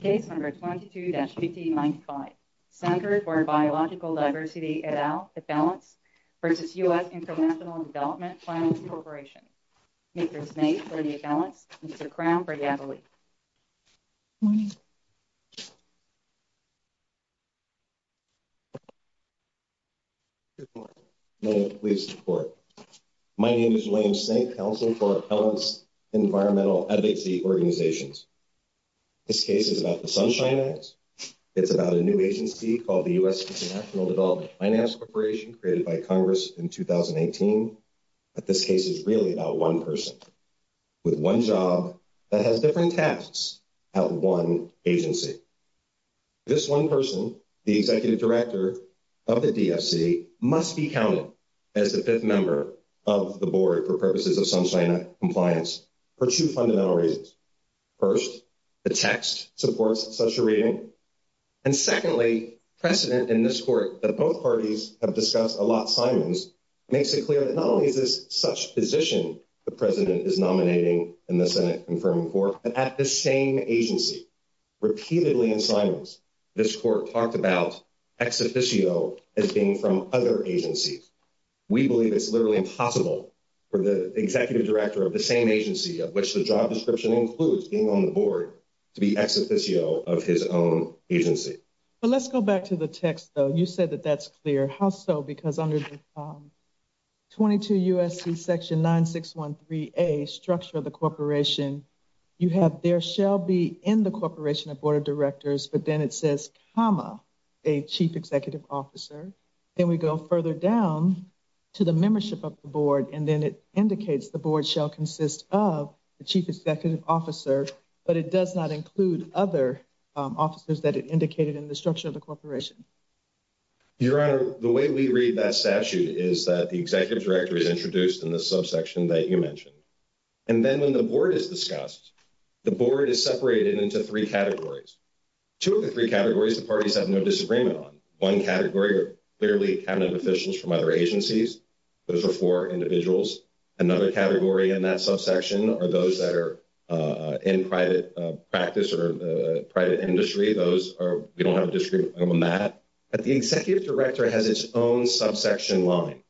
Case No. 22-1595, Center for Biological Diversity et al., EFELENCE v. U.S. International Development Finance Corp. Mr. Snape for EFELENCE, Mr. Crown for EFELE. Good morning. Good morning. May I please report? My name is William Snape, Counsel for EFELENCE Environmental Advocacy Organizations. This case is about the Sunshine Act. It's about a new agency called the U.S. International Development Finance Corporation created by Congress in 2018. But this case is really about one person with one job that has different tasks at one agency. This one person, the Executive Director of the DFC, must be counted as the fifth member of the board for purposes of Sunshine Act compliance for two fundamental reasons. First, the text supports such a reading. And secondly, precedent in this court that both parties have discussed a lot, Simons, makes it clear that not only is this such position the president is nominating in the Senate confirming for, but at the same agency, repeatedly in Simons, this court talked about ex officio as being from other agencies. We believe it's literally impossible for the Executive Director of the same agency of which the job description includes being on the board to be ex officio of his own agency. But let's go back to the text, though. You said that that's clear. How so? Because under 22 U.S.C. Section 9613A, structure of the corporation, you have there shall be in the corporation a board of directors. But then it says, comma, a chief executive officer. Then we go further down to the membership of the board, and then it indicates the board shall consist of the chief executive officer. But it does not include other officers that it indicated in the structure of the corporation. Your Honor, the way we read that statute is that the executive director is introduced in the subsection that you mentioned. And then when the board is discussed, the board is separated into three categories. Two of the three categories the parties have no disagreement on. One category are clearly cabinet officials from other agencies. Those are four individuals. Another category in that subsection are those that are in private practice or private industry. Those are, we don't have a disagreement on that. But the executive director has its own subsection line,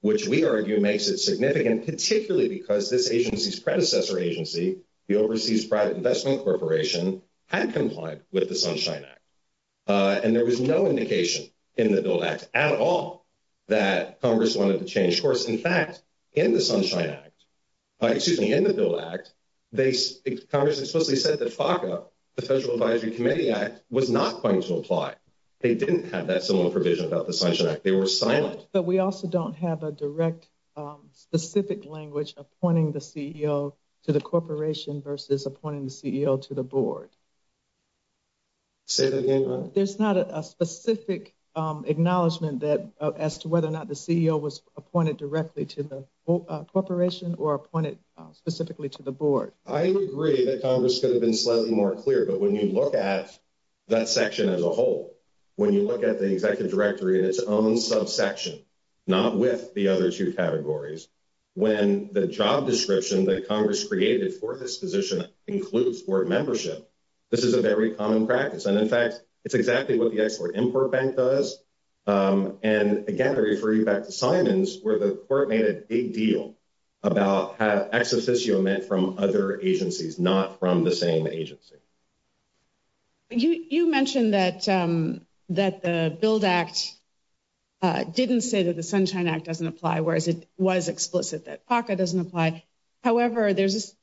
which we argue makes it significant, particularly because this agency's predecessor agency, the Overseas Private Investment Corporation, had complied with the Sunshine Act. And there was no indication in the Build Act at all that Congress wanted to change course. In fact, in the Sunshine Act, excuse me, in the Build Act, Congress explicitly said that FACA, the Federal Advisory Committee Act, was not going to apply. They didn't have that similar provision about the Sunshine Act. They were silent. But we also don't have a direct specific language appointing the CEO to the corporation versus appointing the CEO to the board. Say that again, Your Honor. There's not a specific acknowledgment as to whether or not the CEO was appointed directly to the corporation or appointed specifically to the board. I agree that Congress could have been slightly more clear, but when you look at that section as a whole, when you look at the executive directory in its own subsection, not with the other two categories, when the job description that Congress created for this position includes board membership, this is a very common practice. And, in fact, it's exactly what the Export-Import Bank does. And, again, I refer you back to Simons where the court made a big deal about how ex officio meant from other agencies, not from the same agency. You mentioned that the Build Act didn't say that the Sunshine Act doesn't apply, whereas it was explicit that FACA doesn't apply. However, there's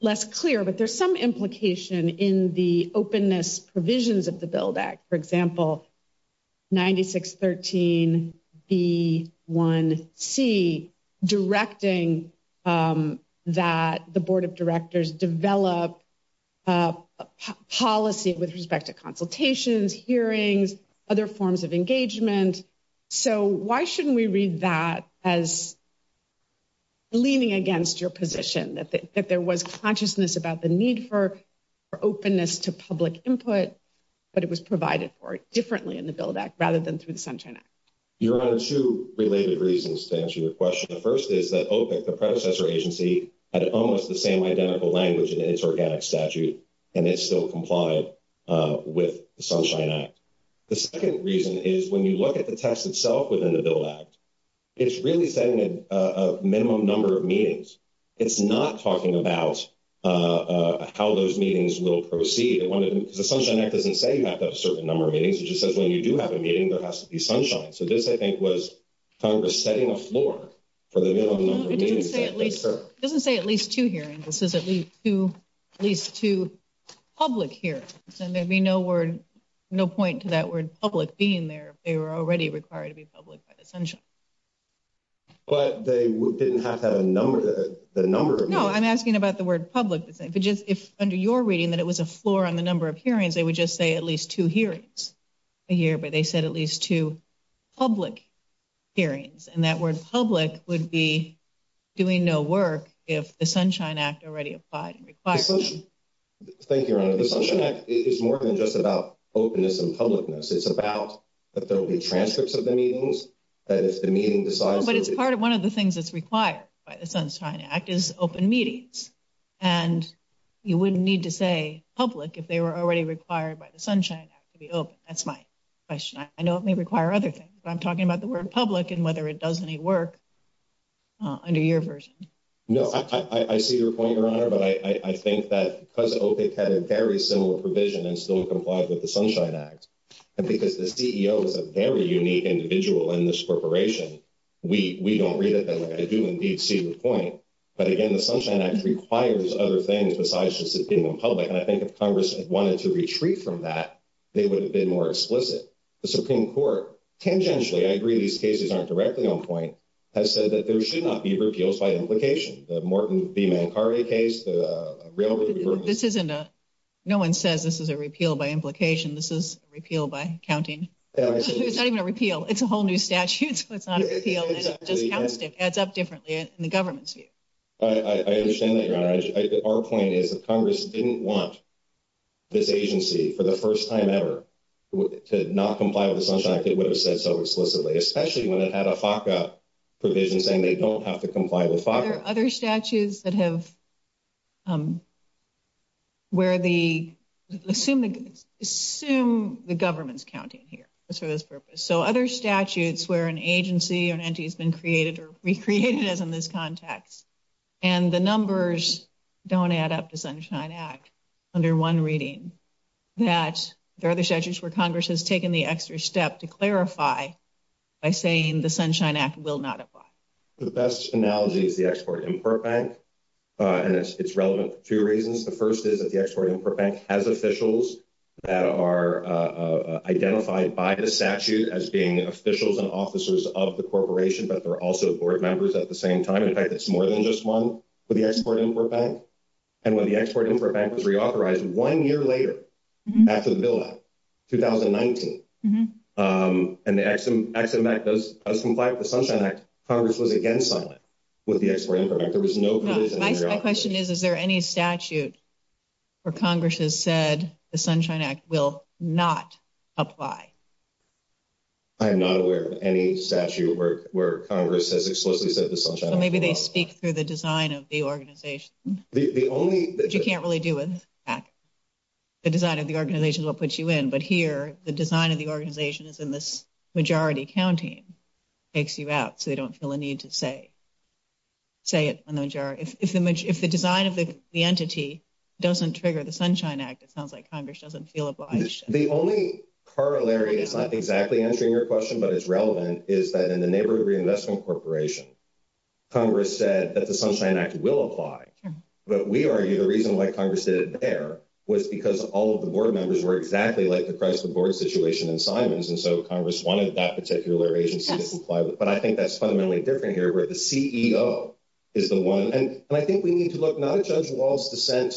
less clear, but there's some implication in the openness provisions of the Build Act. For example, 9613B1C directing that the board of directors develop policy with respect to consultations, hearings, other forms of engagement. And so why shouldn't we read that as leaning against your position, that there was consciousness about the need for openness to public input, but it was provided for differently in the Build Act rather than through the Sunshine Act? Your Honor, two related reasons to answer your question. The first is that OPIC, the predecessor agency, had almost the same identical language in its organic statute, and it still complied with the Sunshine Act. The second reason is when you look at the text itself within the Build Act, it's really setting a minimum number of meetings. It's not talking about how those meetings will proceed. The Sunshine Act doesn't say you have to have a certain number of meetings. It just says when you do have a meeting, there has to be sunshine. So this, I think, was Congress setting a floor for the minimum number of meetings. It doesn't say at least two hearings. This is at least two public hearings, and there'd be no point to that word public being there if they were already required to be public by the Sunshine Act. But they didn't have to have a number of meetings. No, I'm asking about the word public. If under your reading that it was a floor on the number of hearings, they would just say at least two hearings a year, but they said at least two public hearings. And that word public would be doing no work if the Sunshine Act already applied and required it. Thank you, Your Honor. The Sunshine Act is more than just about openness and publicness. It's about that there will be transcripts of the meetings, that if the meeting decides there'll be— No, but it's part of—one of the things that's required by the Sunshine Act is open meetings. And you wouldn't need to say public if they were already required by the Sunshine Act to be open. That's my question. I know it may require other things, but I'm talking about the word public and whether it does any work under your version. No, I see your point, Your Honor, but I think that because OPIC had a very similar provision and still complied with the Sunshine Act, and because the CEO is a very unique individual in this corporation, we don't read it that way. I do, indeed, see the point. But, again, the Sunshine Act requires other things besides just it being in public. And I think if Congress had wanted to retreat from that, they would have been more explicit. The Supreme Court, tangentially—I agree these cases aren't directly on point—has said that there should not be repeals by implication. The Morton v. Mancari case, the railroad group— This isn't a—no one says this is a repeal by implication. This is a repeal by counting. It's not even a repeal. It's a whole new statute, so it's not a repeal. It just adds up differently in the government's view. I understand that, Your Honor. Our point is that Congress didn't want this agency, for the first time ever, to not comply with the Sunshine Act. It would have said so explicitly, especially when it had a FACA provision saying they don't have to comply with FACA. Are there other statutes that have—where the—assume the government's counting here for this purpose. So other statutes where an agency or an entity has been created or recreated, as in this context, and the numbers don't add up to Sunshine Act under one reading, that there are other statutes where Congress has taken the extra step to clarify by saying the Sunshine Act will not apply. The best analogy is the Export-Import Bank, and it's relevant for two reasons. The first is that the Export-Import Bank has officials that are identified by the statute as being officials and officers of the corporation, but they're also board members at the same time. In fact, it's more than just one for the Export-Import Bank. And when the Export-Import Bank was reauthorized one year later, after the Bill Act 2019, and the Ex-Im Act does comply with the Sunshine Act, Congress was again silent with the Export-Import Bank. There was no provision to reauthorize it. My question is, is there any statute where Congress has said the Sunshine Act will not apply? I am not aware of any statute where Congress has explicitly said the Sunshine Act will not apply. So maybe they speak through the design of the organization. The only— Which you can't really do with the Act. The design of the organization will put you in. But here, the design of the organization is in this majority counting. It takes you out, so they don't feel a need to say it in the majority. If the design of the entity doesn't trigger the Sunshine Act, it sounds like Congress doesn't feel obliged. The only corollary is not exactly answering your question, but it's relevant, is that in the Neighborhood Reinvestment Corporation, Congress said that the Sunshine Act will apply. But we argue the reason why Congress did it there was because all of the board members were exactly like the Chrysler board situation in Simons. And so Congress wanted that particular agency to comply with it. But I think that's fundamentally different here, where the CEO is the one. And I think we need to look not at Judge Wall's dissent,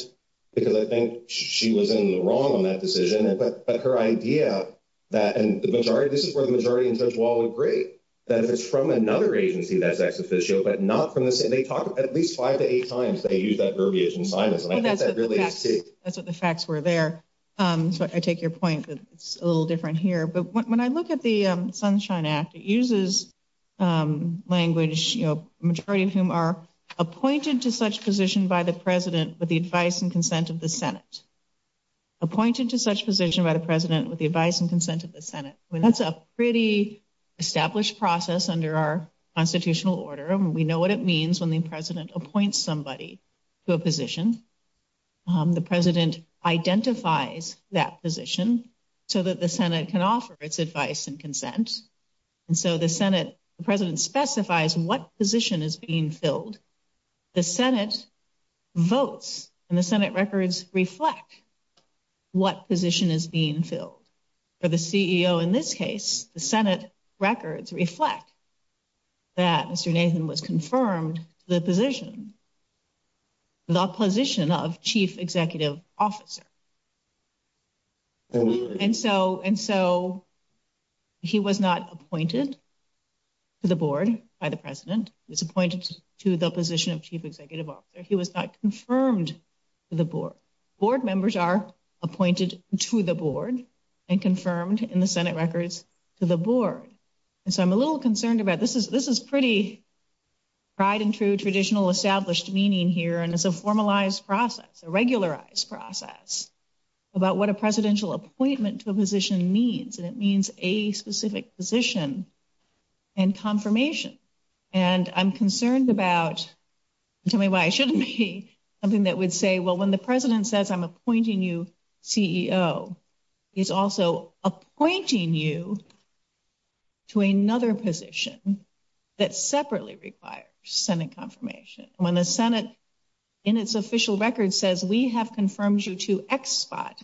because I think she was in the wrong on that decision. But her idea that—and the majority—this is where the majority and Judge Wall agree, that if it's from another agency, that's ex officio, but not from the same—they talk at least five to eight times. They use that verbiage in Simons, and I think that really is key. That's what the facts were there. So I take your point that it's a little different here. But when I look at the Sunshine Act, it uses language, you know, a majority of whom are appointed to such position by the president with the advice and consent of the Senate. Appointed to such position by the president with the advice and consent of the Senate. That's a pretty established process under our constitutional order, and we know what it means when the president appoints somebody to a position. The president identifies that position so that the Senate can offer its advice and consent. And so the Senate—the president specifies what position is being filled. The Senate votes, and the Senate records reflect what position is being filled. For the CEO in this case, the Senate records reflect that Mr. Nathan was confirmed to the position, the position of chief executive officer. And so he was not appointed to the board by the president. He was appointed to the position of chief executive officer. He was not confirmed to the board. Board members are appointed to the board and confirmed in the Senate records to the board. And so I'm a little concerned about this. This is pretty tried and true traditional established meaning here, and it's a formalized process, a regularized process about what a presidential appointment to a position means, and it means a specific position and confirmation. And I'm concerned about—tell me why I shouldn't be—something that would say, well, when the president says I'm appointing you CEO, he's also appointing you to another position that separately requires Senate confirmation. When the Senate, in its official record, says we have confirmed you to X spot,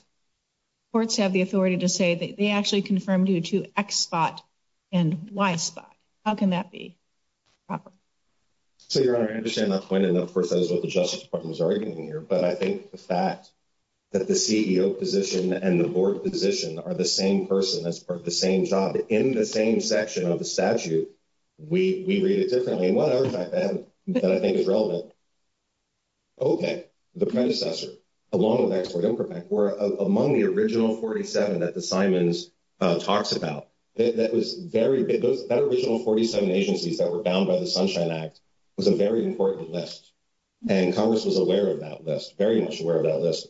courts have the authority to say that they actually confirmed you to X spot and Y spot. How can that be proper? So, Your Honor, I understand that point, and, of course, that is what the Justice Department is arguing here. But I think the fact that the CEO position and the board position are the same person, that's part of the same job, in the same section of the statute, we read it differently. And one other fact that I think is relevant, OK, the predecessor, along with Export Improvement, were among the original 47 that the Simons talks about. That was very—that original 47 agencies that were bound by the Sunshine Act was a very important list. And Congress was aware of that list, very much aware of that list,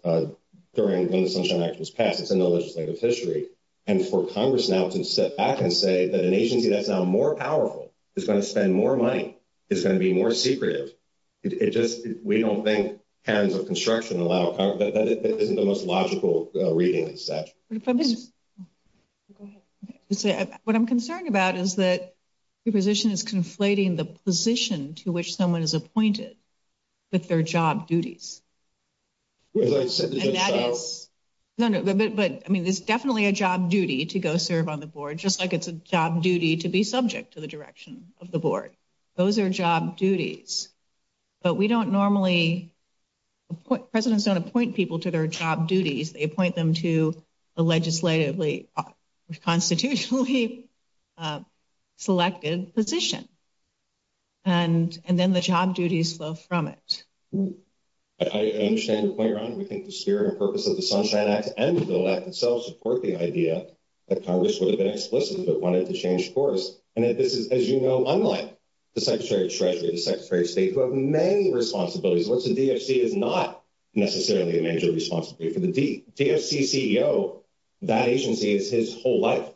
during when the Sunshine Act was passed. It's in the legislative history. And for Congress now to step back and say that an agency that's now more powerful is going to spend more money, is going to be more secretive, it just—we don't think hands of construction allow—that isn't the most logical reading of the statute. Go ahead. What I'm concerned about is that your position is conflating the position to which someone is appointed with their job duties. And that is— No, no, but, I mean, there's definitely a job duty to go serve on the board, just like it's a job duty to be subject to the direction of the board. Those are job duties. But we don't normally—presidents don't appoint people to their job duties. They appoint them to a legislatively, constitutionally selected position. And then the job duties flow from it. I understand your point, Ron. We think the spirit and purpose of the Sunshine Act and the Build Act itself support the idea that Congress would have been explicit but wanted to change course. And that this is, as you know, unlike the Secretary of Treasury, the Secretary of State, who have many responsibilities. What's a DFC is not necessarily a major responsibility for the D. A DFC CEO, that agency is his whole life.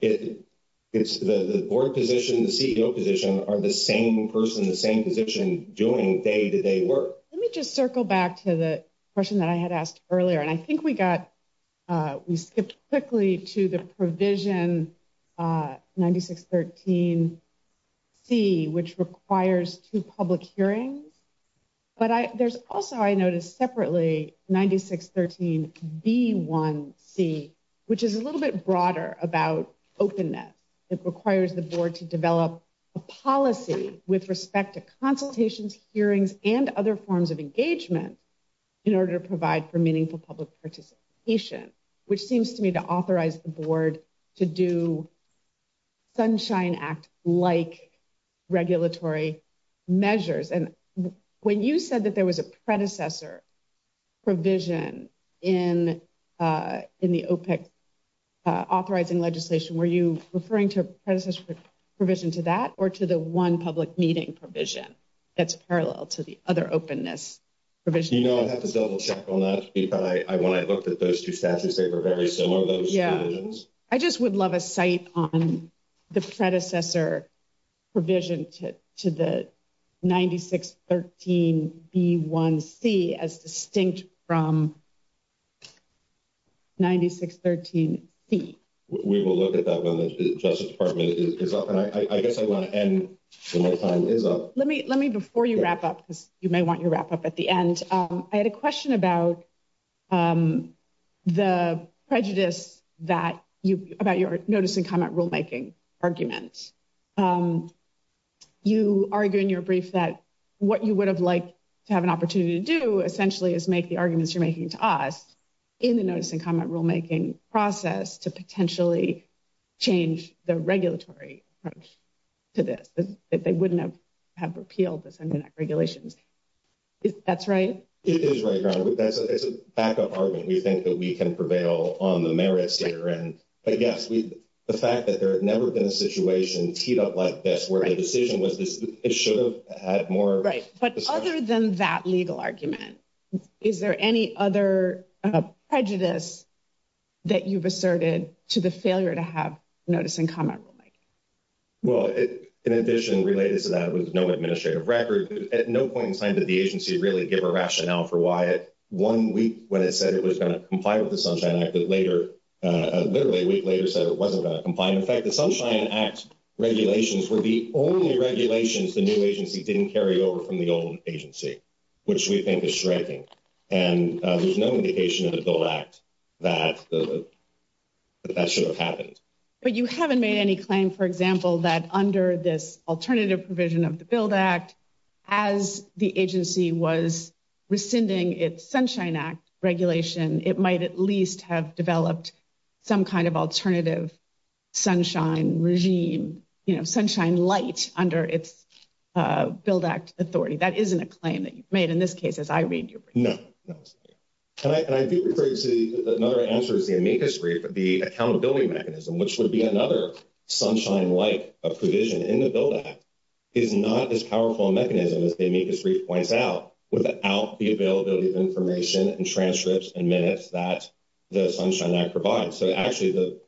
It's the board position, the CEO position, are the same person, the same position, doing day-to-day work. Let me just circle back to the question that I had asked earlier. And I think we got—we skipped quickly to the provision 9613C, which requires two public hearings. But there's also, I noticed separately, 9613B1C, which is a little bit broader about openness. It requires the board to develop a policy with respect to consultations, hearings, and other forms of engagement in order to provide for meaningful public participation, which seems to me to authorize the board to do Sunshine Act-like regulatory measures. And when you said that there was a predecessor provision in the OPEC authorizing legislation, were you referring to a predecessor provision to that or to the one public meeting provision that's parallel to the other openness provision? You know, I'd have to double-check on that. When I looked at those two statutes, they were very similar, those provisions. I just would love a cite on the predecessor provision to the 9613B1C as distinct from 9613C. We will look at that when the Justice Department is up. And I guess I want to end when my time is up. Let me before you wrap up, because you may want to wrap up at the end. I had a question about the prejudice about your notice-and-comment rulemaking argument. You argue in your brief that what you would have liked to have an opportunity to do, essentially, is make the arguments you're making to us in the notice-and-comment rulemaking process to potentially change the regulatory approach to this, that they wouldn't have repealed this Internet regulations. That's right? It is right, Ron. It's a backup argument. We think that we can prevail on the merits here. But yes, the fact that there had never been a situation teed up like this, where the decision was this, it should have had more. Right. But other than that legal argument, is there any other prejudice that you've asserted to the failure to have notice-and-comment rulemaking? Well, in addition related to that, it was no administrative record. At no point in time did the agency really give a rationale for why it, one week when it said it was going to comply with the Sunshine Act, that later, literally a week later, said it wasn't going to comply. And, in fact, the Sunshine Act regulations were the only regulations the new agency didn't carry over from the old agency, which we think is striking. And there's no indication in the Build Act that that should have happened. But you haven't made any claim, for example, that under this alternative provision of the Build Act, as the agency was rescinding its Sunshine Act regulation, it might at least have developed some kind of alternative sunshine regime, you know, sunshine light under its Build Act authority. That isn't a claim that you've made in this case, as I read your brief. No. And I do regret to say that another answer is the amicus brief, the accountability mechanism, which would be another sunshine-like provision in the Build Act, is not as powerful a mechanism as the amicus brief points out, without the availability of information and transcripts and minutes that the Sunshine Act provides. So, actually, the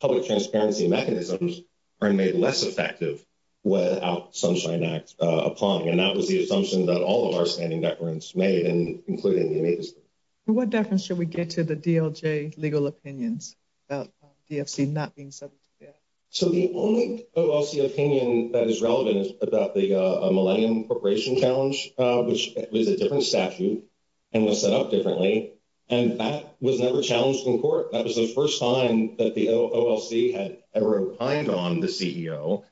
public transparency mechanisms are made less effective without Sunshine Act upon. And that was the assumption that all of our standing deference made, including the amicus brief. What deference should we get to the DLJ legal opinions about DFC not being subject to DLJ? So the only OLC opinion that is relevant is about the Millennium Corporation Challenge, which was a different statute and was set up differently, and that was never challenged in court. That was the first time that the OLC had ever opined on the CEO.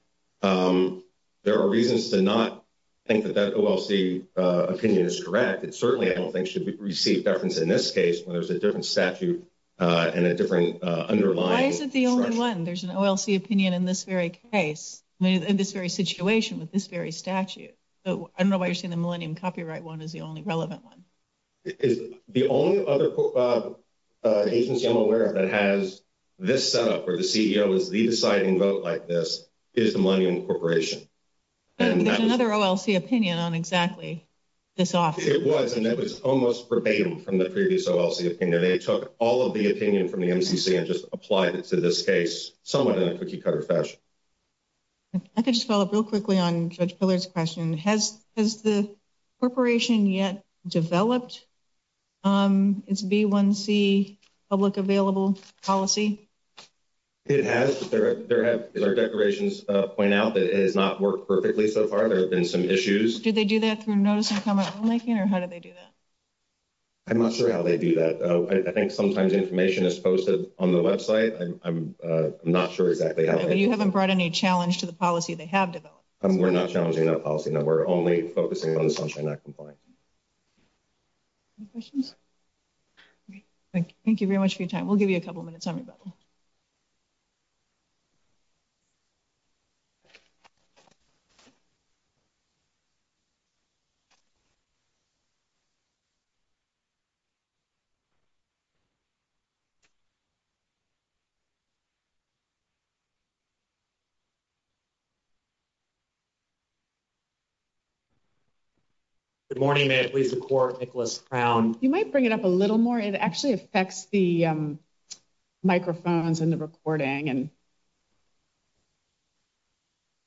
There are reasons to not think that that OLC opinion is correct. It certainly, I don't think, should receive deference in this case, where there's a different statute and a different underlying. Why is it the only one? There's an OLC opinion in this very case, in this very situation, with this very statute. I don't know why you're saying the Millennium Copyright one is the only relevant one. The only other agency I'm aware of that has this setup, where the CEO is the deciding vote like this, is the Millennium Corporation. There's another OLC opinion on exactly this office. It was, and it was almost verbatim from the previous OLC opinion. They took all of the opinion from the MCC and just applied it to this case somewhat in a cookie cutter fashion. I can just follow up real quickly on Judge Pillard's question. Has the corporation yet developed its B1C public available policy? It has, but there have, as our declarations point out, that it has not worked perfectly so far. There have been some issues. Did they do that through notice and comment rulemaking, or how did they do that? I'm not sure how they do that. I think sometimes information is posted on the website. I'm not sure exactly how. You haven't brought any challenge to the policy they have developed. We're not challenging that policy. No, we're only focusing on the Sunshine Act compliance. Any questions? Thank you very much for your time. We'll give you a couple minutes, everybody. Good morning. May I please record Nicholas Brown? You might bring it up a little more. It actually affects the microphones and the recording.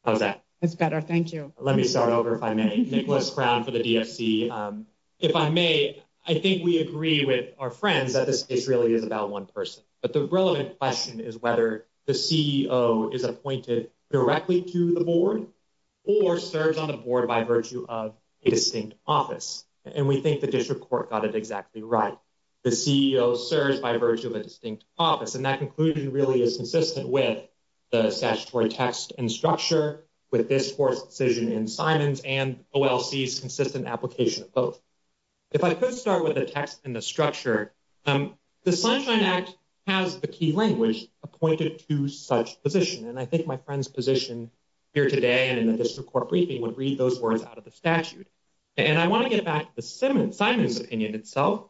How's that? It's better. Thank you. Let me start over if I may. Nicholas Brown for the DFC. If I may, I think we agree with our friends that this case really is about one person. But the relevant question is whether the CEO is appointed directly to the board or serves on the board by virtue of a distinct office. And we think the district court got it exactly right. The CEO serves by virtue of a distinct office. And that conclusion really is consistent with the statutory text and structure with this court's decision in Simon's and OLC's consistent application of both. If I could start with the text and the structure, the Sunshine Act has the key language appointed to such position. And I think my friend's position here today and in the district court briefing would read those words out of the statute. And I want to get back to Simon's opinion itself.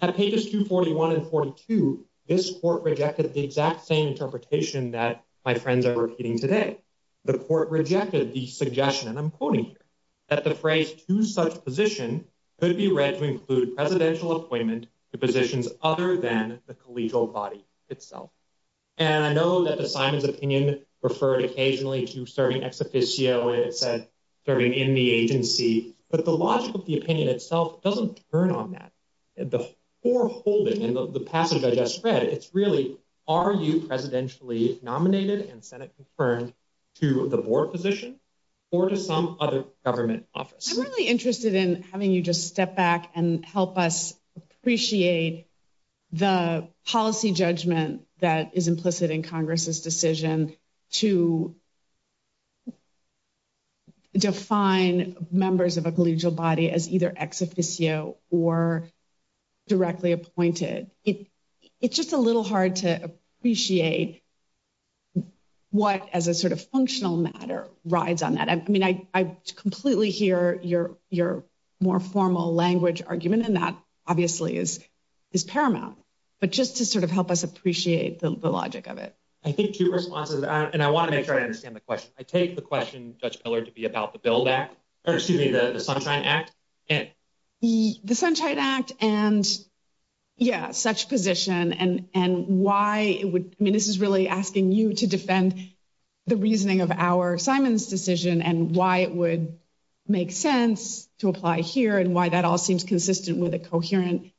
At pages 241 and 42, this court rejected the exact same interpretation that my friends are repeating today. The court rejected the suggestion, and I'm quoting here, that the phrase to such position could be read to include presidential appointment to positions other than the collegial body itself. And I know that the Simon's opinion referred occasionally to serving ex officio and it said serving in the agency. But the logic of the opinion itself doesn't turn on that. The foreholding and the passage I just read, it's really are you presidentially nominated and senate confirmed to the board position or to some other government office? I'm really interested in having you just step back and help us appreciate the policy judgment that is implicit in Congress's decision to define members of a collegial body as either ex officio or directly appointed. It's just a little hard to appreciate what as a sort of functional matter rides on that. I mean, I completely hear your more formal language argument, and that obviously is paramount. But just to sort of help us appreciate the logic of it. I think two responses, and I want to make sure I understand the question. I take the question, Judge Miller, to be about the Build Act, or excuse me, the Sunshine Act. The Sunshine Act and, yeah, such position and why this is really asking you to defend the reasoning of our Simon's decision and why it would make sense to apply here and why that all seems consistent with a coherent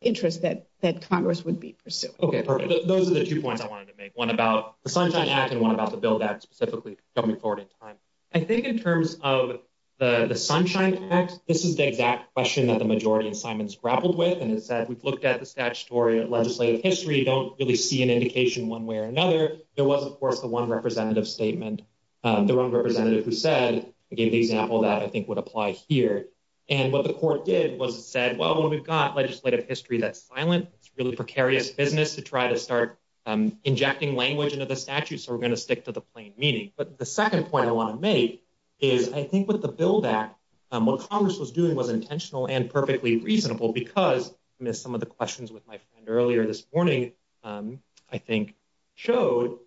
interest that Congress would be pursuing. Okay, perfect. Those are the two points I wanted to make. One about the Sunshine Act and one about the Build Act specifically coming forward in time. I think in terms of the Sunshine Act, this is the exact question that the majority assignments grappled with. And it said, we've looked at the statutory legislative history. Don't really see an indication one way or another. There was, of course, the one representative statement, the representative who said, I gave the example that I think would apply here. And what the court did was it said, well, when we've got legislative history, that's silent. It's really precarious business to try to start injecting language into the statute. So we're going to stick to the plain meaning. But the second point I want to make is, I think, with the Build Act, what Congress was doing was intentional and perfectly reasonable because some of the questions with my friend earlier this morning, I think, showed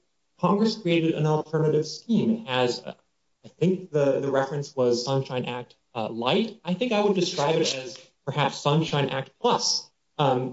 Congress created an alternative scheme as I think the reference was Sunshine Act light. I think I would describe it as perhaps Sunshine Act plus,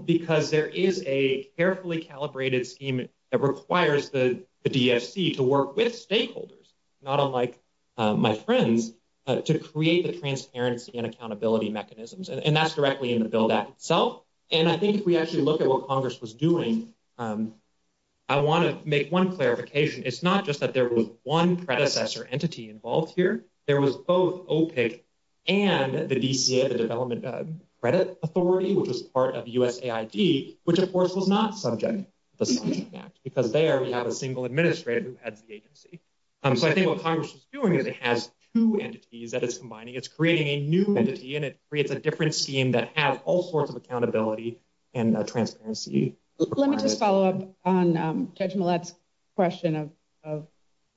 because there is a carefully calibrated scheme that requires the DFC to work with stakeholders, not unlike my friends, to create the transparency and accountability mechanisms. And that's directly in the Build Act itself. And I think if we actually look at what Congress was doing, I want to make one clarification. It's not just that there was one predecessor entity involved here. There was both OPIC and the DCA, the Development Credit Authority, which was part of USAID, which, of course, was not subject to the Sunshine Act because there we have a single administrator who heads the agency. So I think what Congress is doing is it has two entities that it's combining. It's creating a new entity, and it creates a different scheme that has all sorts of accountability and transparency requirements. Let me just follow up on Judge Millett's question of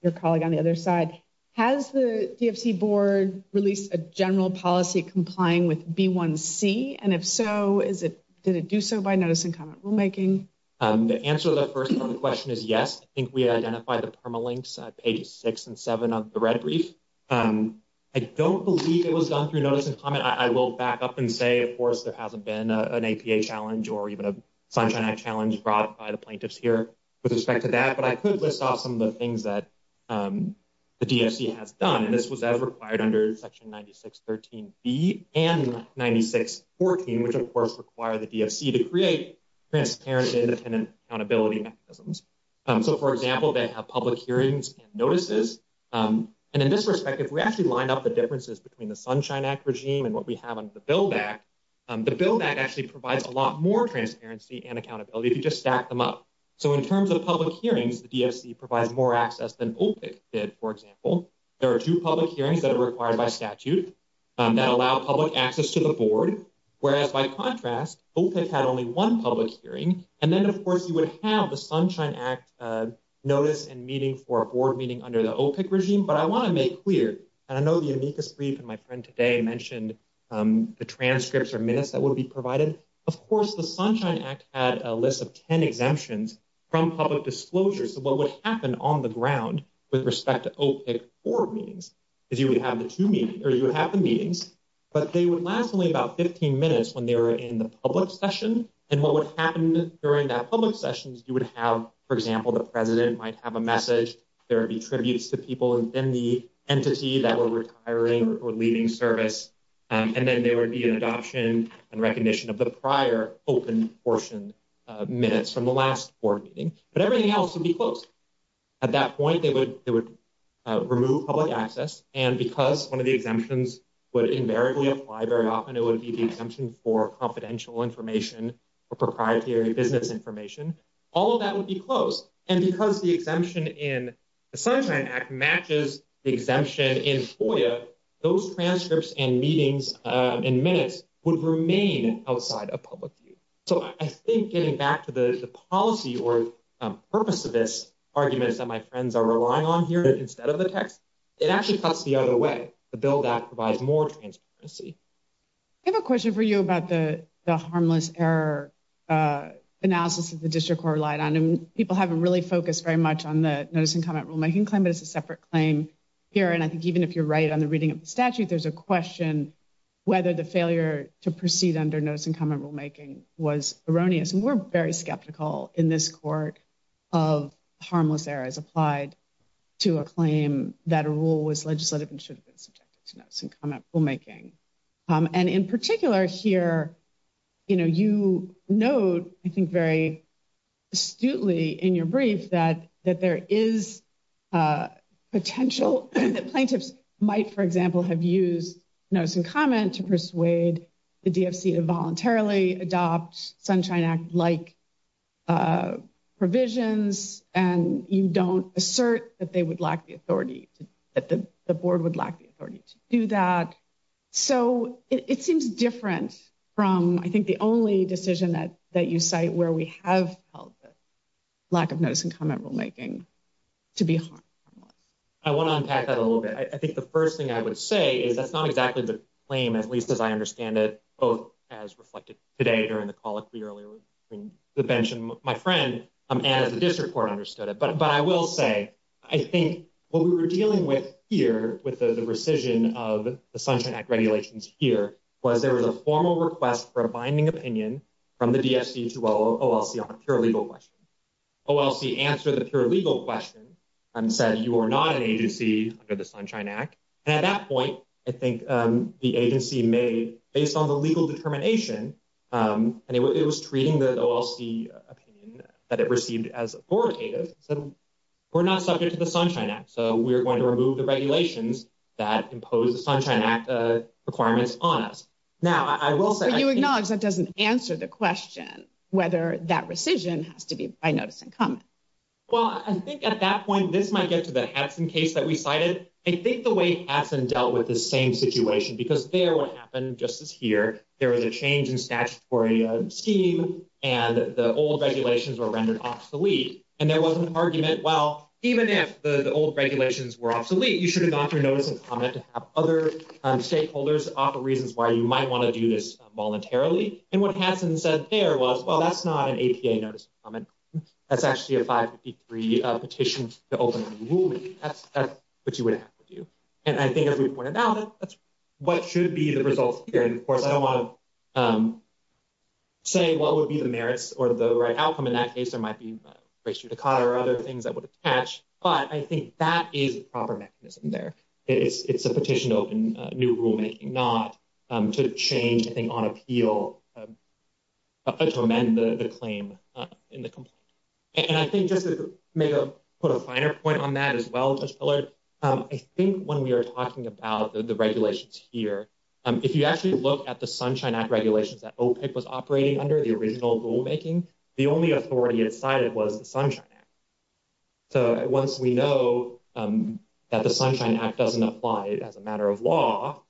your colleague on the other side. Has the DFC board released a general policy complying with B1C? And if so, did it do so by notice and comment rulemaking? The answer to that first part of the question is yes. I think we identified the permalinks at pages 6 and 7 of the red brief. I don't believe it was done through notice and comment. I will back up and say, of course, there hasn't been an APA challenge or even a Sunshine Act challenge brought by the plaintiffs here with respect to that. But I could list off some of the things that the DFC has done. And this was as required under Section 9613B and 9614, which, of course, require the DFC to create transparency and accountability mechanisms. So, for example, they have public hearings and notices. And in this respect, if we actually line up the differences between the Sunshine Act regime and what we have under the Build Act, the Build Act actually provides a lot more transparency and accountability if you just stack them up. So in terms of public hearings, the DFC provides more access than OPIC did. For example, there are two public hearings that are required by statute that allow public access to the board. Whereas, by contrast, OPIC had only one public hearing. And then, of course, you would have the Sunshine Act notice and meeting for a board meeting under the OPIC regime. But I want to make clear, and I know the amicus brief and my friend today mentioned the transcripts or minutes that would be provided. Of course, the Sunshine Act had a list of 10 exemptions from public disclosure. So what would happen on the ground with respect to OPIC board meetings is you would have the two meetings, or you would have the meetings, but they would last only about 15 minutes when they were in the public session. And what would happen during that public session is you would have, for example, the president might have a message. There would be tributes to people within the entity that were retiring or leaving service. And then there would be an adoption and recognition of the prior open portion minutes from the last board meeting. But everything else would be closed. At that point, they would remove public access. And because one of the exemptions would invariably apply very often, it would be the exemption for confidential information or proprietary business information. All of that would be closed. And because the exemption in the Sunshine Act matches the exemption in FOIA, those transcripts and meetings and minutes would remain outside of public view. So I think getting back to the policy or purpose of this argument is that my friends are relying on here instead of the text. It actually cuts the other way. The bill that provides more transparency. I have a question for you about the harmless error analysis that the district court relied on. And people haven't really focused very much on the notice and comment rulemaking claim, but it's a separate claim here. And I think even if you're right on the reading of the statute, there's a question whether the failure to proceed under notice and comment rulemaking was erroneous. And we're very skeptical in this court of harmless errors applied to a claim that a rule was legislative and should have been subjected to notice and comment rulemaking. And in particular here, you know, you note, I think, very astutely in your brief that there is potential that plaintiffs might, for example, have used notice and comment to persuade the DFC to voluntarily adopt Sunshine Act-like provisions. And you don't assert that they would lack the authority, that the board would lack the authority to do that. So it seems different from, I think, the only decision that you cite where we have felt the lack of notice and comment rulemaking to be harmless. I want to unpack that a little bit. I think the first thing I would say is that's not exactly the claim, at least as I understand it. Both as reflected today during the call earlier between the bench and my friend, and as the district court understood it. But I will say, I think what we were dealing with here, with the rescission of the Sunshine Act regulations here, was there was a formal request for a binding opinion from the DFC to OLC on a pure legal question. OLC answered the pure legal question and said you are not an agency under the Sunshine Act. And at that point, I think the agency made, based on the legal determination, and it was treating the OLC opinion that it received as authoritative, said we're not subject to the Sunshine Act. So we're going to remove the regulations that impose the Sunshine Act requirements on us. But you acknowledge that doesn't answer the question, whether that rescission has to be by notice and comment. Well, I think at that point, this might get to the Hatson case that we cited. I think the way Hatson dealt with the same situation, because there what happened, just as here, there was a change in statutory scheme, and the old regulations were rendered obsolete. And there was an argument, well, even if the old regulations were obsolete, you should have gone through notice and comment to have other stakeholders offer reasons why you might want to do this voluntarily. And what Hatson said there was, well, that's not an APA notice and comment. That's actually a 553 petition to open a ruling. That's what you would have to do. And I think as we pointed out, that's what should be the results here. And of course, I don't want to say what would be the merits or the right outcome in that case. There might be race judicata or other things that would attach. But I think that is a proper mechanism there. It's a petition to open new rulemaking, not to change anything on appeal to amend the claim in the complaint. And I think just to put a finer point on that as well, Judge Pillard, I think when we are talking about the regulations here, if you actually look at the Sunshine Act regulations that OPIC was operating under the original rulemaking, the only authority it cited was the Sunshine Act. So, once we know that the Sunshine Act doesn't apply as a matter of law,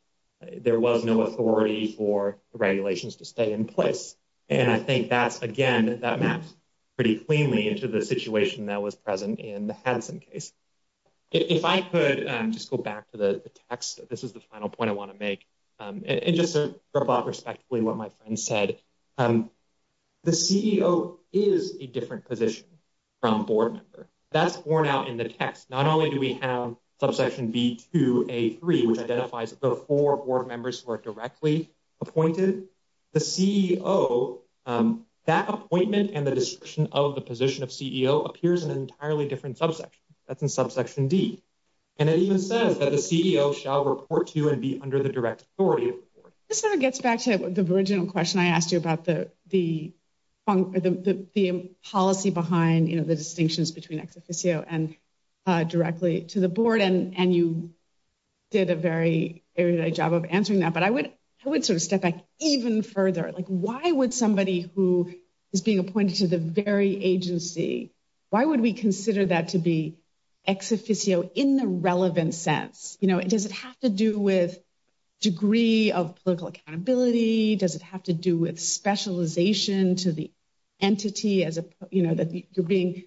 there was no authority for regulations to stay in place. And I think that's, again, that maps pretty cleanly into the situation that was present in the Hansen case. If I could just go back to the text. This is the final point I want to make. And just to wrap up respectfully what my friend said, the CEO is a different position from board member. That's borne out in the text. Not only do we have subsection B2A3, which identifies the four board members who are directly appointed. The CEO, that appointment and the description of the position of CEO appears in an entirely different subsection. That's in subsection D. And it even says that the CEO shall report to and be under the direct authority of the board. This sort of gets back to the original question I asked you about the policy behind the distinctions between ex officio and directly to the board. And you did a very good job of answering that. But I would sort of step back even further. Like, why would somebody who is being appointed to the very agency, why would we consider that to be ex officio in the relevant sense? Does it have to do with degree of political accountability? Does it have to do with specialization to the entity that you're being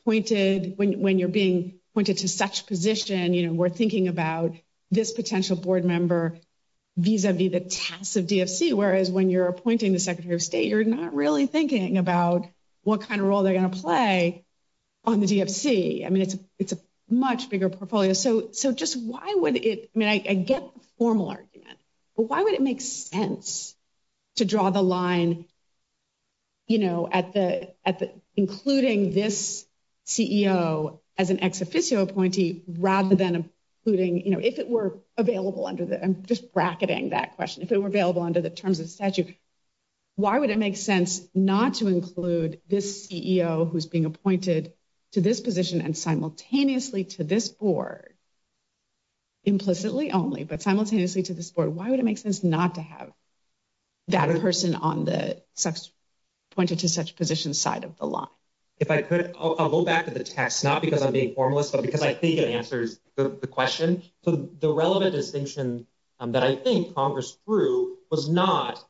appointed when you're being appointed to such position? We're thinking about this potential board member vis-a-vis the task of DFC. Whereas when you're appointing the Secretary of State, you're not really thinking about what kind of role they're going to play on the DFC. I mean, it's a much bigger portfolio. So just why would it, I mean, I get the formal argument. But why would it make sense to draw the line, you know, at the including this CEO as an ex officio appointee rather than including, you know, if it were available under the, I'm just bracketing that question. If it were available under the terms of statute. Why would it make sense not to include this CEO who's being appointed to this position and simultaneously to this board? Implicitly only, but simultaneously to this board, why would it make sense not to have that person on the pointed to such position side of the line? If I could, I'll go back to the text, not because I'm being formalist, but because I think it answers the question. So the relevant distinction that I think Congress through was not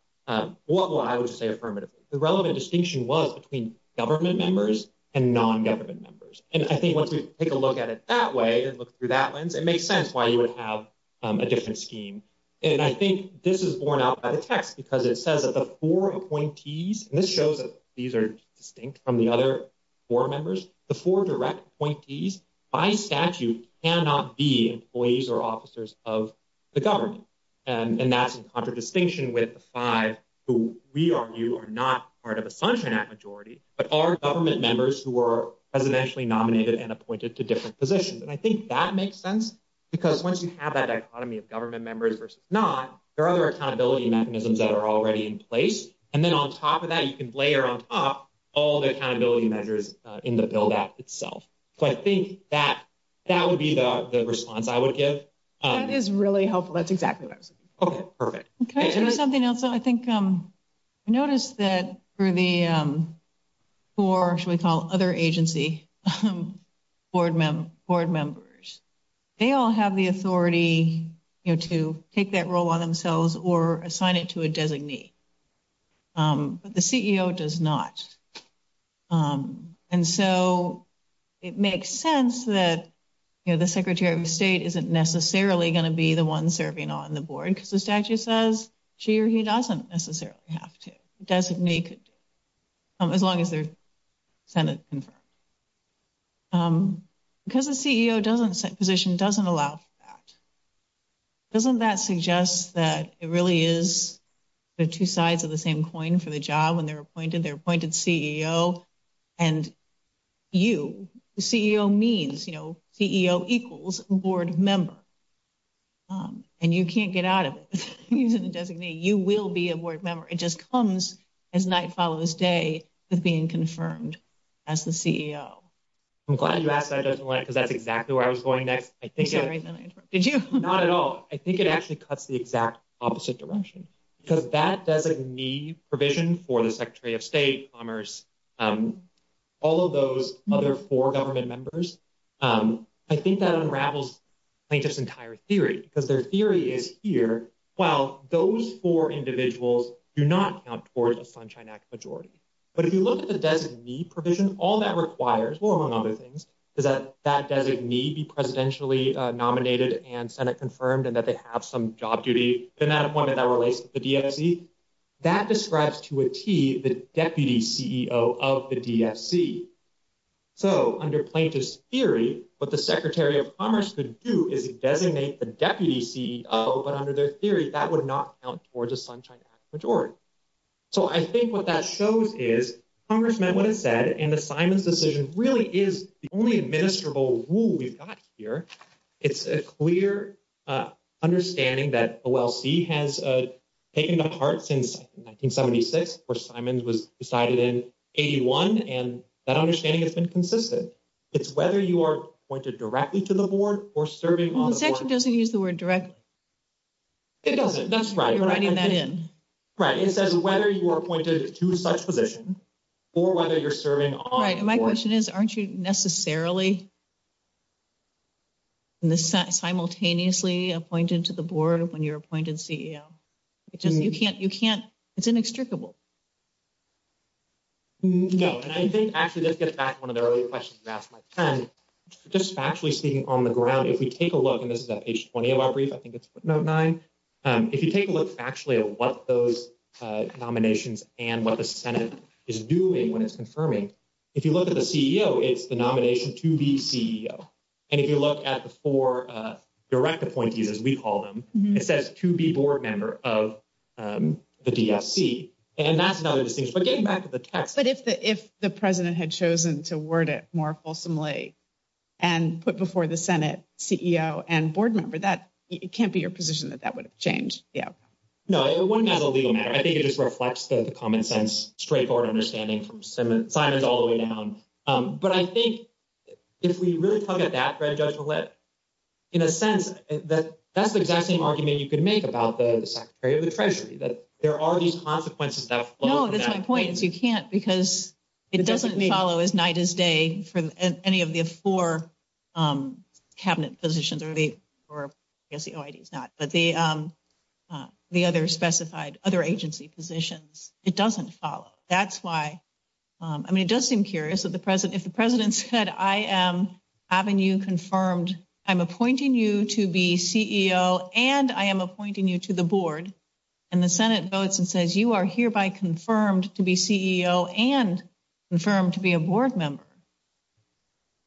what I would say. Affirmative. The relevant distinction was between government members and non government members. And I think once we take a look at it that way and look through that lens, it makes sense why you would have a different scheme. And I think this is borne out by the text, because it says that the 4 appointees, and this shows that these are distinct from the other 4 members, the 4 direct appointees by statute cannot be employees or officers of the government. And that's in contradistinction with the 5 who we are, you are not part of a sunshine at majority, but our government members who were presidentially nominated and appointed to different positions. And I think that makes sense because once you have that economy of government members versus not, there are other accountability mechanisms that are already in place. And then on top of that, you can layer on top all the accountability measures in the bill that itself. But I think that that would be the response I would give is really helpful. That's exactly what I was perfect. There's something else. I think. Notice that for the, or should we call other agency? Board board members, they all have the authority to take that role on themselves or assign it to a designee. But the CEO does not and so. It makes sense that, you know, the secretary of state isn't necessarily going to be the 1 serving on the board because the statute says she, or he doesn't necessarily have to doesn't make it. As long as they're. Because the CEO doesn't position doesn't allow that. Doesn't that suggest that it really is. The 2 sides of the same coin for the job when they're appointed, they're appointed CEO. And you CEO means, you know, CEO equals board member. And you can't get out of using the designee. You will be a board member. It just comes as night follows day with being confirmed. As the CEO, I'm glad you asked that because that's exactly where I was going next. I think. Did you not at all? I think it actually cuts the exact opposite direction. Because that doesn't need provision for the secretary of state commerce. All of those other 4 government members, I think that unravels. Plaintiff's entire theory, because their theory is here. Well, those 4 individuals do not count towards a sunshine act majority. But if you look at the designee provision, all that requires, well, among other things, is that that doesn't need be presidentially nominated and Senate confirmed and that they have some job duty. And that appointment that relates the. That describes to a T, the deputy CEO of the. So, under plaintiff's theory, but the secretary of commerce could do is designate the deputy CEO, but under their theory, that would not count towards a sunshine majority. So, I think what that shows is Congress meant what it said and the Simon's decision really is the only administrable rule we've got here. It's a clear understanding that well, see, has taken the heart since 1976 or Simon's was decided in 81 and that understanding has been consistent. It's whether you are pointed directly to the board or serving doesn't use the word direct. It doesn't that's right. You're writing that in. Right. It says whether you are pointed to such position. Or whether you're serving my question is, aren't you necessarily. Simultaneously appointed to the board when you're appointed CEO. It just you can't you can't it's inextricable. No, and I think actually, let's get back 1 of the early questions. Just actually speaking on the ground, if we take a look and this is that page 20 of our brief, I think it's 9. If you take a look, actually, what those nominations and what the Senate is doing when it's confirming. If you look at the CEO, it's the nomination to be CEO. And if you look at the 4 direct appointees, as we call them, it says to be board member of the DFC. And that's another distinction. But getting back to the text. But if the if the president had chosen to word it more fulsomely. And put before the Senate CEO and board member that it can't be your position that that would have changed. Yeah, no, it wouldn't as a legal matter. I think it just reflects the common sense. Straightforward understanding from Simon Simon's all the way down. But I think if we really look at that red judgment lip. In a sense that that's the exact same argument you could make about the secretary of the Treasury, that there are these consequences. No, that's my point is you can't because it doesn't follow as night as day for any of the 4 cabinet positions or the or is not. But the the other specified other agency positions, it doesn't follow. That's why. I mean, it does seem curious that the president, if the president said, I am having you confirmed. I'm appointing you to be CEO and I am appointing you to the board. And the Senate votes and says, you are hereby confirmed to be CEO and confirmed to be a board member.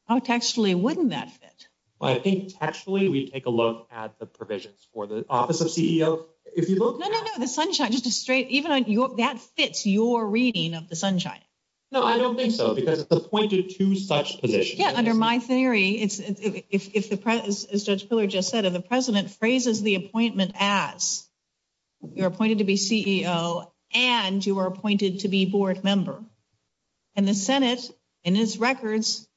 Oh, actually, wouldn't that fit? I think actually, we take a look at the provisions for the office of CEO. If you look at the sunshine, just a straight, even that fits your reading of the sunshine. No, I don't think so, because it's appointed to such position. Yeah. Under my theory, it's if the judge just said of the president phrases the appointment as you're appointed to be CEO and you are appointed to be board member. And the Senate and its records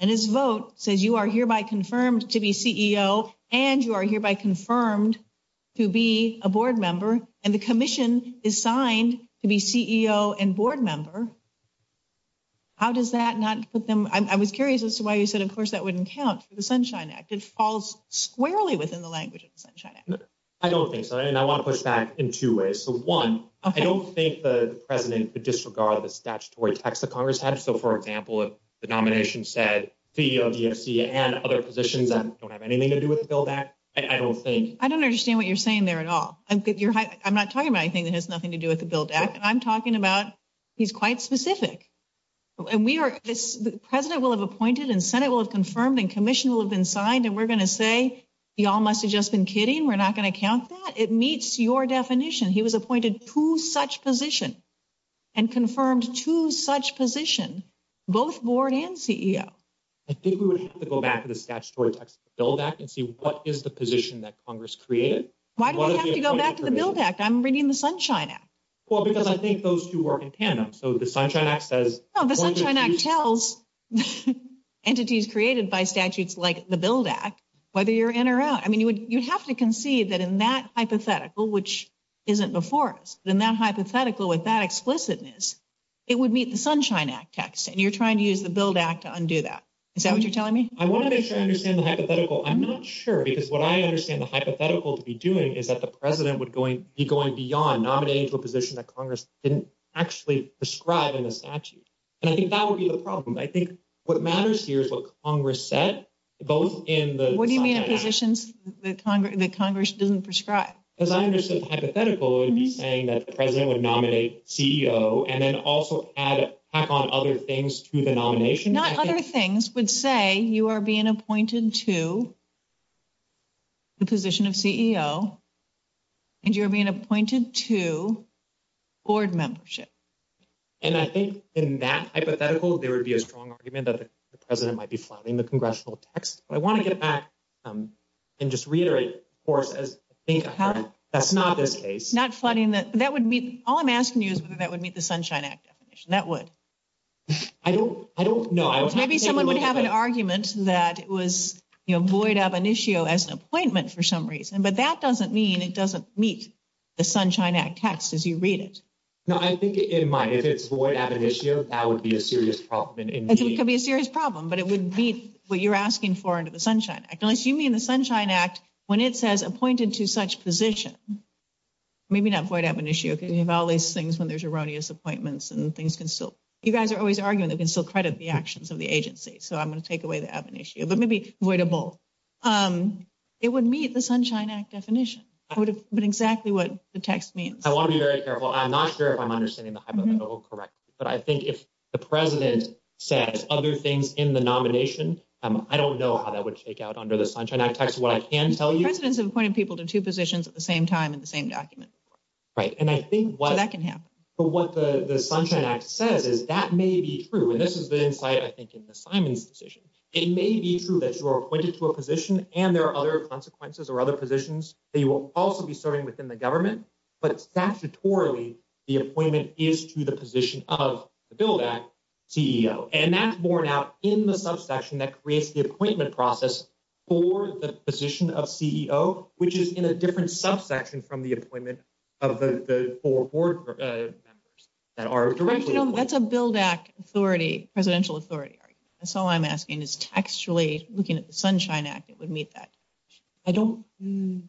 and his vote says you are hereby confirmed to be CEO and you are hereby confirmed to be a board member. And the commission is signed to be CEO and board member. How does that not put them? I was curious as to why you said, of course, that wouldn't count for the Sunshine Act. It falls squarely within the language of the Sunshine Act. I don't think so. And I want to push back in two ways. So, one, I don't think the president would disregard the statutory text of Congress had. So, for example, if the nomination said CEO, GFC and other positions, I don't have anything to do with the bill that I don't think I don't understand what you're saying there at all. I'm not talking about anything that has nothing to do with the bill that I'm talking about. He's quite specific. And we are the president will have appointed and Senate will have confirmed and commission will have been signed. And we're going to say you all must have just been kidding. We're not going to count that. It meets your definition. He was appointed to such position and confirmed to such position, both board and CEO. I think we would have to go back to the statutory bill back and see what is the position that Congress created. Why do we have to go back to the build act? I'm reading the Sunshine Act. Well, because I think those two work in tandem. So the Sunshine Act says the Sunshine Act tells entities created by statutes, like the build act, whether you're in or out. I mean, you would you'd have to concede that in that hypothetical, which isn't before us, then that hypothetical with that explicitness, it would meet the Sunshine Act text. And you're trying to use the build act to undo that. Is that what you're telling me? I want to make sure I understand the hypothetical. I'm not sure, because what I understand the hypothetical to be doing is that the president would be going beyond nominating to a position that Congress didn't actually prescribe in the statute. And I think that would be the problem. I think what matters here is what Congress said, both in the. What do you mean in positions that Congress doesn't prescribe? As I understood, the hypothetical would be saying that the president would nominate CEO and then also add other things to the nomination. Not other things would say you are being appointed to. The position of CEO, and you're being appointed to. Board membership, and I think in that hypothetical, there would be a strong argument that the president might be flooding the congressional text, but I want to get back. And just reiterate, of course, as I think that's not this case, not flooding that that would be all I'm asking you is whether that would meet the Sunshine Act definition that would. I don't I don't know, maybe someone would have an argument that it was void of an issue as an appointment for some reason, but that doesn't mean it doesn't meet the Sunshine Act text as you read it. No, I think in my, if it's what I have an issue, that would be a serious problem. It could be a serious problem, but it would be what you're asking for into the Sunshine. Unless you mean the Sunshine Act when it says appointed to such position. Maybe not quite have an issue because you have all these things when there's erroneous appointments and things can still you guys are always arguing that can still credit the actions of the agency. So, I'm going to take away the issue, but maybe avoidable. It would meet the Sunshine Act definition would have been exactly what the text means. I want to be very careful. I'm not sure if I'm understanding the correct. But I think if the president says other things in the nomination, I don't know how that would take out under the Sunshine Act text. What I can tell you presidents have appointed people to 2 positions at the same time in the same document. Right and I think what that can happen, but what the Sunshine Act says is that may be true and this is the insight I think in the Simon's decision. It may be true that you are appointed to a position and there are other consequences or other positions that you will also be serving within the government. But statutorily, the appointment is to the position of the bill that CEO and that's born out in the subsection that creates the appointment process. For the position of CEO, which is in a different subsection from the appointment. That's a build back authority presidential authority. So I'm asking is textually looking at the Sunshine Act. It would meet that. I don't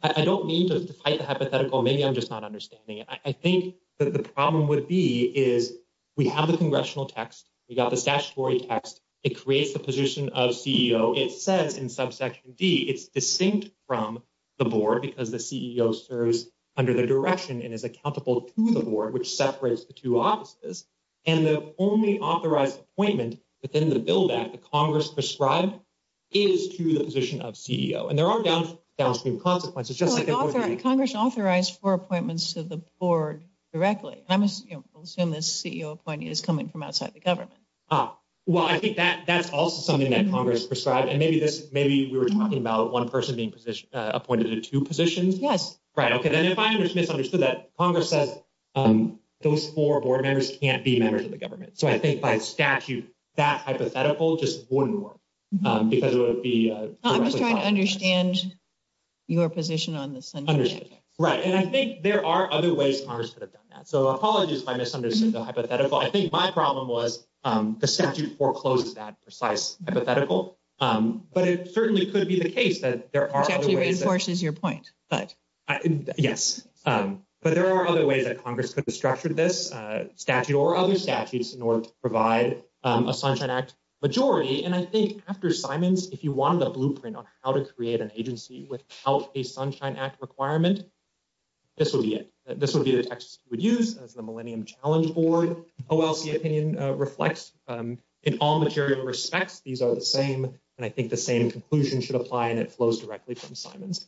I don't need to fight the hypothetical. Maybe I'm just not understanding it. I think that the problem would be is we have the congressional text. We got the statutory text. It creates the position of CEO. It says in subsection D, it's distinct from. The board, because the CEO serves under the direction and is accountable to the board, which separates the 2 offices. And the only authorized appointment within the bill that the Congress prescribed. Is to the position of CEO and there are downstream consequences, just like Congress authorized for appointments to the board directly. I must assume this CEO appointee is coming from outside the government. Well, I think that that's also something that Congress prescribed and maybe this maybe we were talking about 1 person being appointed to 2 positions. Yes. Right. Okay. Then if I understood that Congress says. Those 4 board members can't be members of the government, so I think by statute that hypothetical just wouldn't work because it would be I'm just trying to understand. Your position on this, right? And I think there are other ways Congress could have done that. So apologies if I misunderstood the hypothetical. I think my problem was the statute foreclosed that precise hypothetical. But it certainly could be the case that there are actually reinforces your point. But yes, but there are other ways that Congress could have structured this statute or other statutes in order to provide a Sunshine Act. Majority and I think after Simons, if you wanted a blueprint on how to create an agency without a Sunshine Act requirement. This would be it. This would be the text we'd use as the Millennium Challenge Board. OLC opinion reflects in all material respects. These are the same and I think the same conclusion should apply and it flows directly from Simons.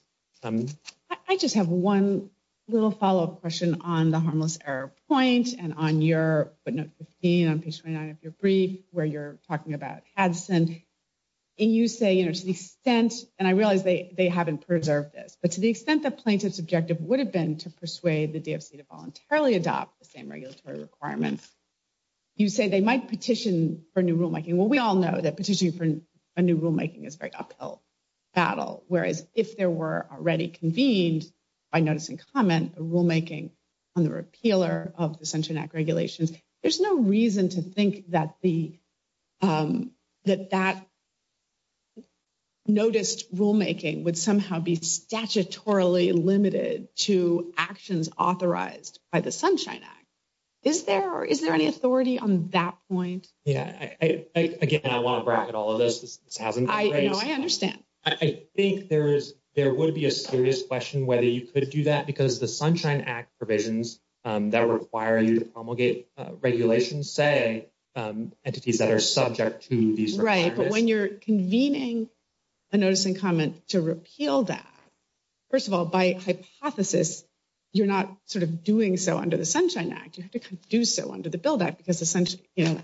I just have 1 little follow up question on the harmless error point and on your 15 on page 29 of your brief where you're talking about. And you say, you know, to the extent and I realize they haven't preserved this, but to the extent that plaintiff's objective would have been to persuade the DFC to voluntarily adopt the same regulatory requirements. You say they might petition for new rulemaking. Well, we all know that petitioning for a new rulemaking is very uphill battle. Whereas if there were already convened by notice and comment rulemaking on the repealer of the Central Act regulations. There's no reason to think that the that that noticed rulemaking would somehow be statutorily limited to actions authorized by the Sunshine Act. Is there or is there any authority on that point? Yeah, I, again, I want to bracket all of this. This hasn't I understand. I think there is there would be a serious question whether you could do that because the Sunshine Act provisions that require you to promulgate regulations say entities that are subject to these. Right. But when you're convening a notice and comment to repeal that, first of all, by hypothesis, you're not sort of doing so under the Sunshine Act. You have to do so under the bill that because essentially, you know,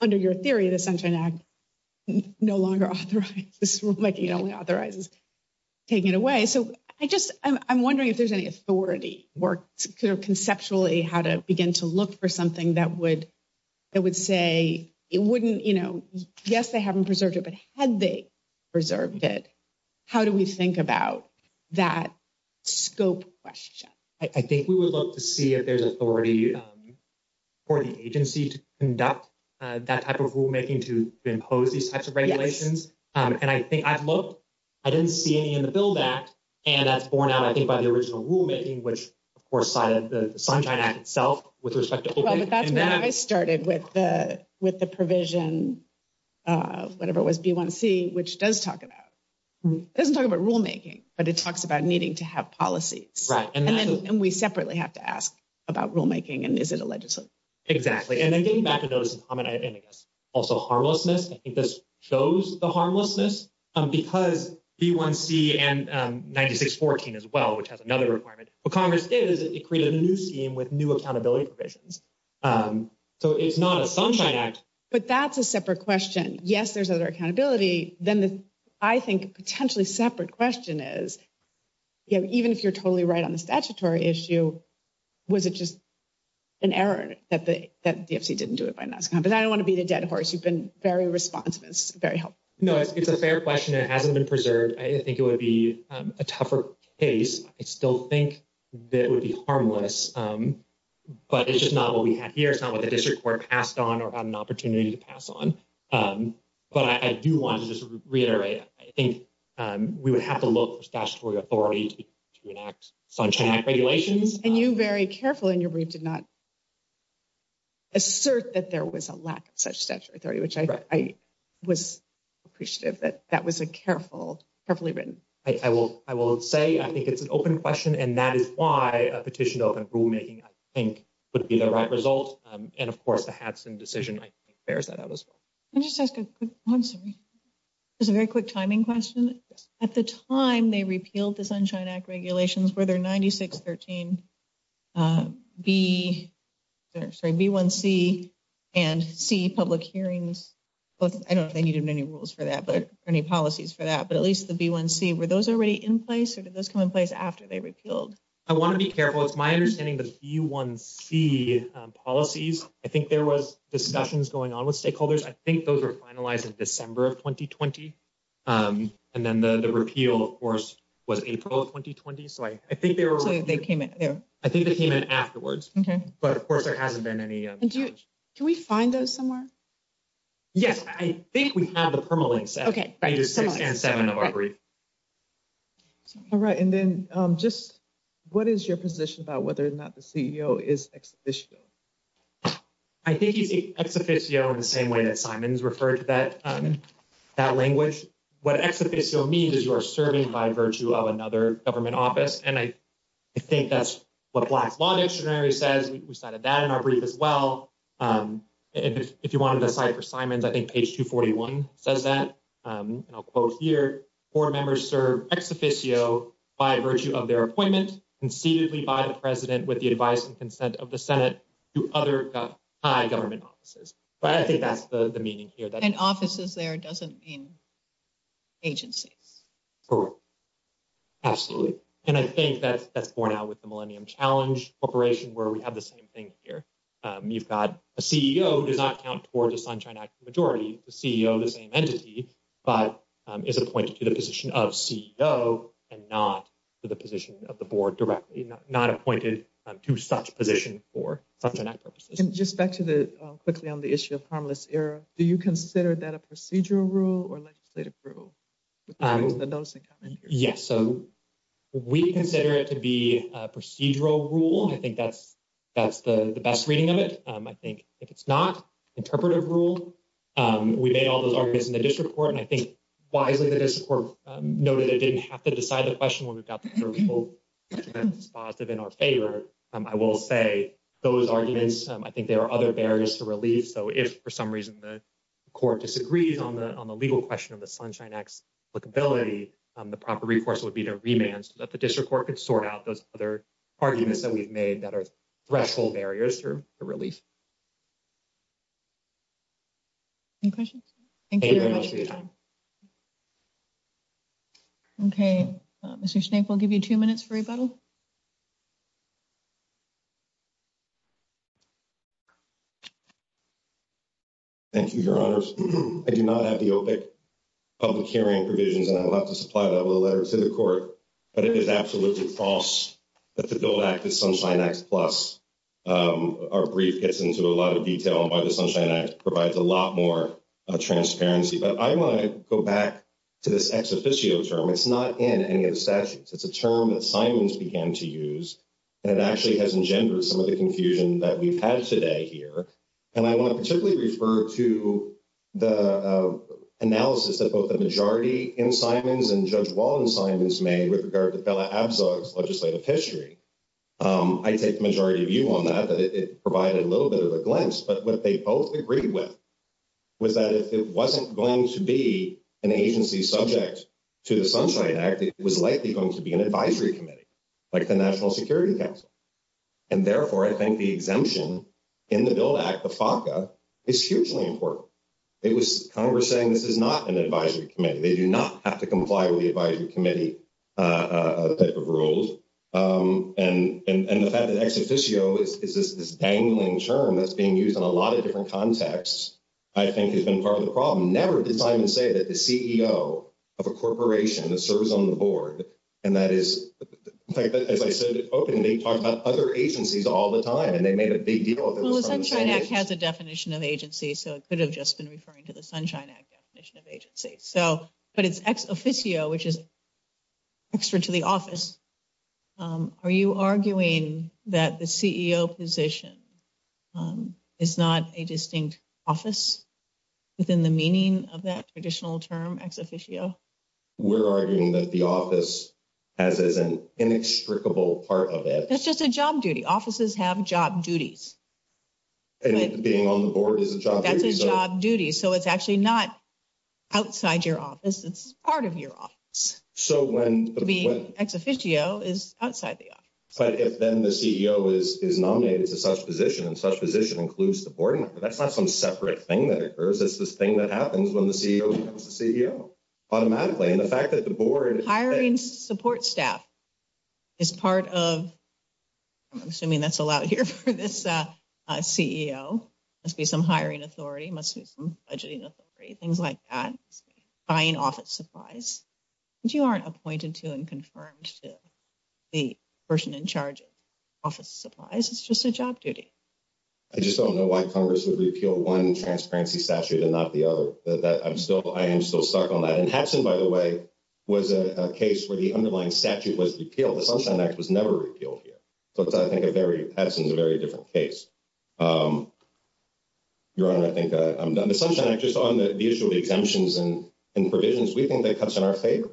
under your theory, the Sunshine Act no longer authorizes this rulemaking only authorizes taking it away. So I just I'm wondering if there's any authority work conceptually how to begin to look for something that would it would say it wouldn't, you know, yes, they haven't preserved it. But had they preserved it, how do we think about that scope question? I think we would love to see if there's authority for the agency to conduct that type of rulemaking to impose these types of regulations. And I think I've looked, I didn't see any in the bill back, and that's borne out, I think, by the original rulemaking, which, of course, the Sunshine Act itself with respect to that. I started with the with the provision, whatever it was B1C, which does talk about doesn't talk about rulemaking, but it talks about needing to have policies. Right. And then we separately have to ask about rulemaking. And is it a legislative? Exactly. And then getting back to those comment, I guess also harmlessness. I think this shows the harmlessness because B1C and 9614 as well, which has another requirement. What Congress did is it created a new scheme with new accountability provisions. So it's not a Sunshine Act, but that's a separate question. Yes, there's other accountability. Then I think potentially separate question is, even if you're totally right on the statutory issue, was it just an error that the DFC didn't do it? But I don't want to be the dead horse. You've been very responsive. It's very helpful. No, it's a fair question. It hasn't been preserved. I think it would be a tougher case. I still think that would be harmless, but it's just not what we have here. It's not what the district court passed on or had an opportunity to pass on. But I do want to just reiterate, I think we would have to look for statutory authority to enact Sunshine Act regulations. And you very careful in your brief did not assert that there was a lack of such statutory authority, which I was appreciative that that was a careful, carefully written. I will, I will say, I think it's an open question and that is why a petition to open rulemaking, I think, would be the right result. And of course, the Hadson decision, I think, bears that out as well. I just ask a quick one. Sorry. It's a very quick timing question. At the time they repealed the Sunshine Act regulations where they're 9613. B1C and C public hearings. I don't know if they needed many rules for that, but any policies for that, but at least the B1C, were those already in place or did those come in place after they repealed? I want to be careful. It's my understanding. The B1C policies. I think there was discussions going on with stakeholders. I think those are finalized in December of 2020. And then the repeal, of course, was April of 2020. So, I think they were, they came in. I think they came in afterwards. Okay. But of course, there hasn't been any. Can we find those somewhere? Yes, I think we have the permalinks. Okay. All right. And then just what is your position about whether or not the CEO is exhibition? I think he's ex officio in the same way that Simon's referred to that, that language. What ex officio means is you are serving by virtue of another government office. And I think that's what Black's Law Dictionary says. We cited that in our brief as well. If you wanted to cite for Simon's, I think page 241 says that, and I'll quote here, board members serve ex officio by virtue of their appointment concededly by the president with the advice and consent of the Senate to other government offices. But I think that's the meaning here. And offices there doesn't mean agencies. Absolutely. And I think that that's borne out with the Millennium Challenge Corporation, where we have the same thing here. You've got a CEO who does not count toward the Sunshine Act majority, the CEO, the same entity, but is appointed to the position of CEO and not to the position of the board directly, not appointed to such position for such purposes. And just back to the quickly on the issue of harmless error. Do you consider that a procedural rule or legislative rule? Yes, so we consider it to be a procedural rule. I think that's that's the best reading of it. I think if it's not interpretive rule, we made all those arguments in the district court, and I think wisely the district court noted it didn't have to decide the question when we got the approval. Positive in our favor, I will say those arguments, I think there are other barriers to relief. So, if, for some reason, the court disagrees on the, on the legal question of the Sunshine X. Look, ability, the proper reports would be to remand so that the district court could sort out those other arguments that we've made that are threshold barriers to relief. Any questions. Okay, Mr snake, we'll give you 2 minutes for rebuttal. Thank you, your honors. I do not have the. Public hearing provisions, and I will have to supply that with a letter to the court, but it is absolutely false. That the bill that Sunshine X plus our brief gets into a lot of detail on by the Sunshine X provides a lot more transparency, but I want to go back. To this ex officio term, it's not in any of the statutes. It's a term that Simon's began to use. And it actually has engendered some of the confusion that we've had today here. And I want to particularly refer to the analysis that both the majority in Simon's and judge wall and Simon's made with regard to legislative history. I take the majority of you on that, that it provided a little bit of a glimpse, but what they both agreed with. Was that if it wasn't going to be an agency subject. To the sunshine act, it was likely going to be an advisory committee. Like the National Security Council, and therefore, I think the exemption. In the bill act, the is hugely important. It was Congress saying this is not an advisory committee. They do not have to comply with the advisory committee. Rules and the fact that ex officio is this dangling term that's being used on a lot of different contexts. I think has been part of the problem. Never did Simon say that the CEO of a corporation that serves on the board. And that is, as I said, openly talked about other agencies all the time, and they made a big deal. Has a definition of agency, so it could have just been referring to the sunshine act definition of agency. So, but it's ex officio, which is extra to the office. Are you arguing that the CEO position is not a distinct office within the meaning of that additional term ex officio? We're arguing that the office has as an inextricable part of it. That's just a job duty offices have job duties. And being on the board is a job duty. So it's actually not. Outside your office, it's part of your office. So, when the ex officio is outside the office, but if then the CEO is nominated to such position and such position includes the board, that's not some separate thing that occurs. It's this thing that happens when the CEO automatically, and the fact that the board hiring support staff is part of. I'm assuming that's allowed here for this CEO must be some hiring authority must be some things like that buying office supplies. You aren't appointed to and confirmed to the person in charge of office supplies. It's just a job duty. I just don't know why Congress would repeal 1 transparency statute and not the other that I'm still I am still stuck on that. And Hudson, by the way, was a case where the underlying statute was repealed. The Sunshine Act was never repealed here. So, I think a very, that's a very different case. Your honor, I think the Sunshine Act, just on the issue of exemptions and provisions, we think that cuts in our favor.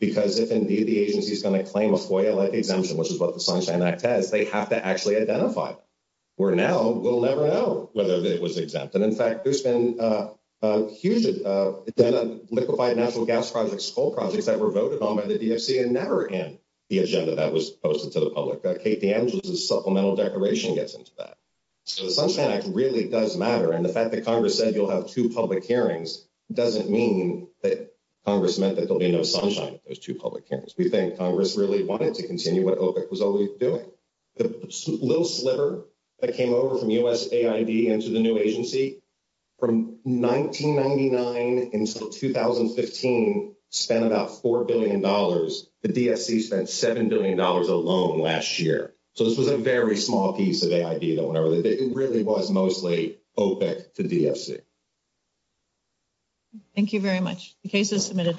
Because if, indeed, the agency is going to claim a FOIA-like exemption, which is what the Sunshine Act has, they have to actually identify it. Where now, we'll never know whether it was exempt. And in fact, there's been a huge identified liquefied natural gas projects, coal projects that were voted on by the DFC and never in the agenda that was posted to the public. Kate DeAngelo's supplemental declaration gets into that. So, the Sunshine Act really does matter. And the fact that Congress said you'll have 2 public hearings doesn't mean that Congress meant that there'll be no sunshine at those 2 public hearings. We think Congress really wanted to continue what OPIC was already doing. The little sliver that came over from USAID into the new agency, from 1999 until 2015, spent about $4 billion. The DFC spent $7 billion alone last year. So, this was a very small piece of AID. It really was mostly OPIC to DFC. Thank you very much. The case is submitted.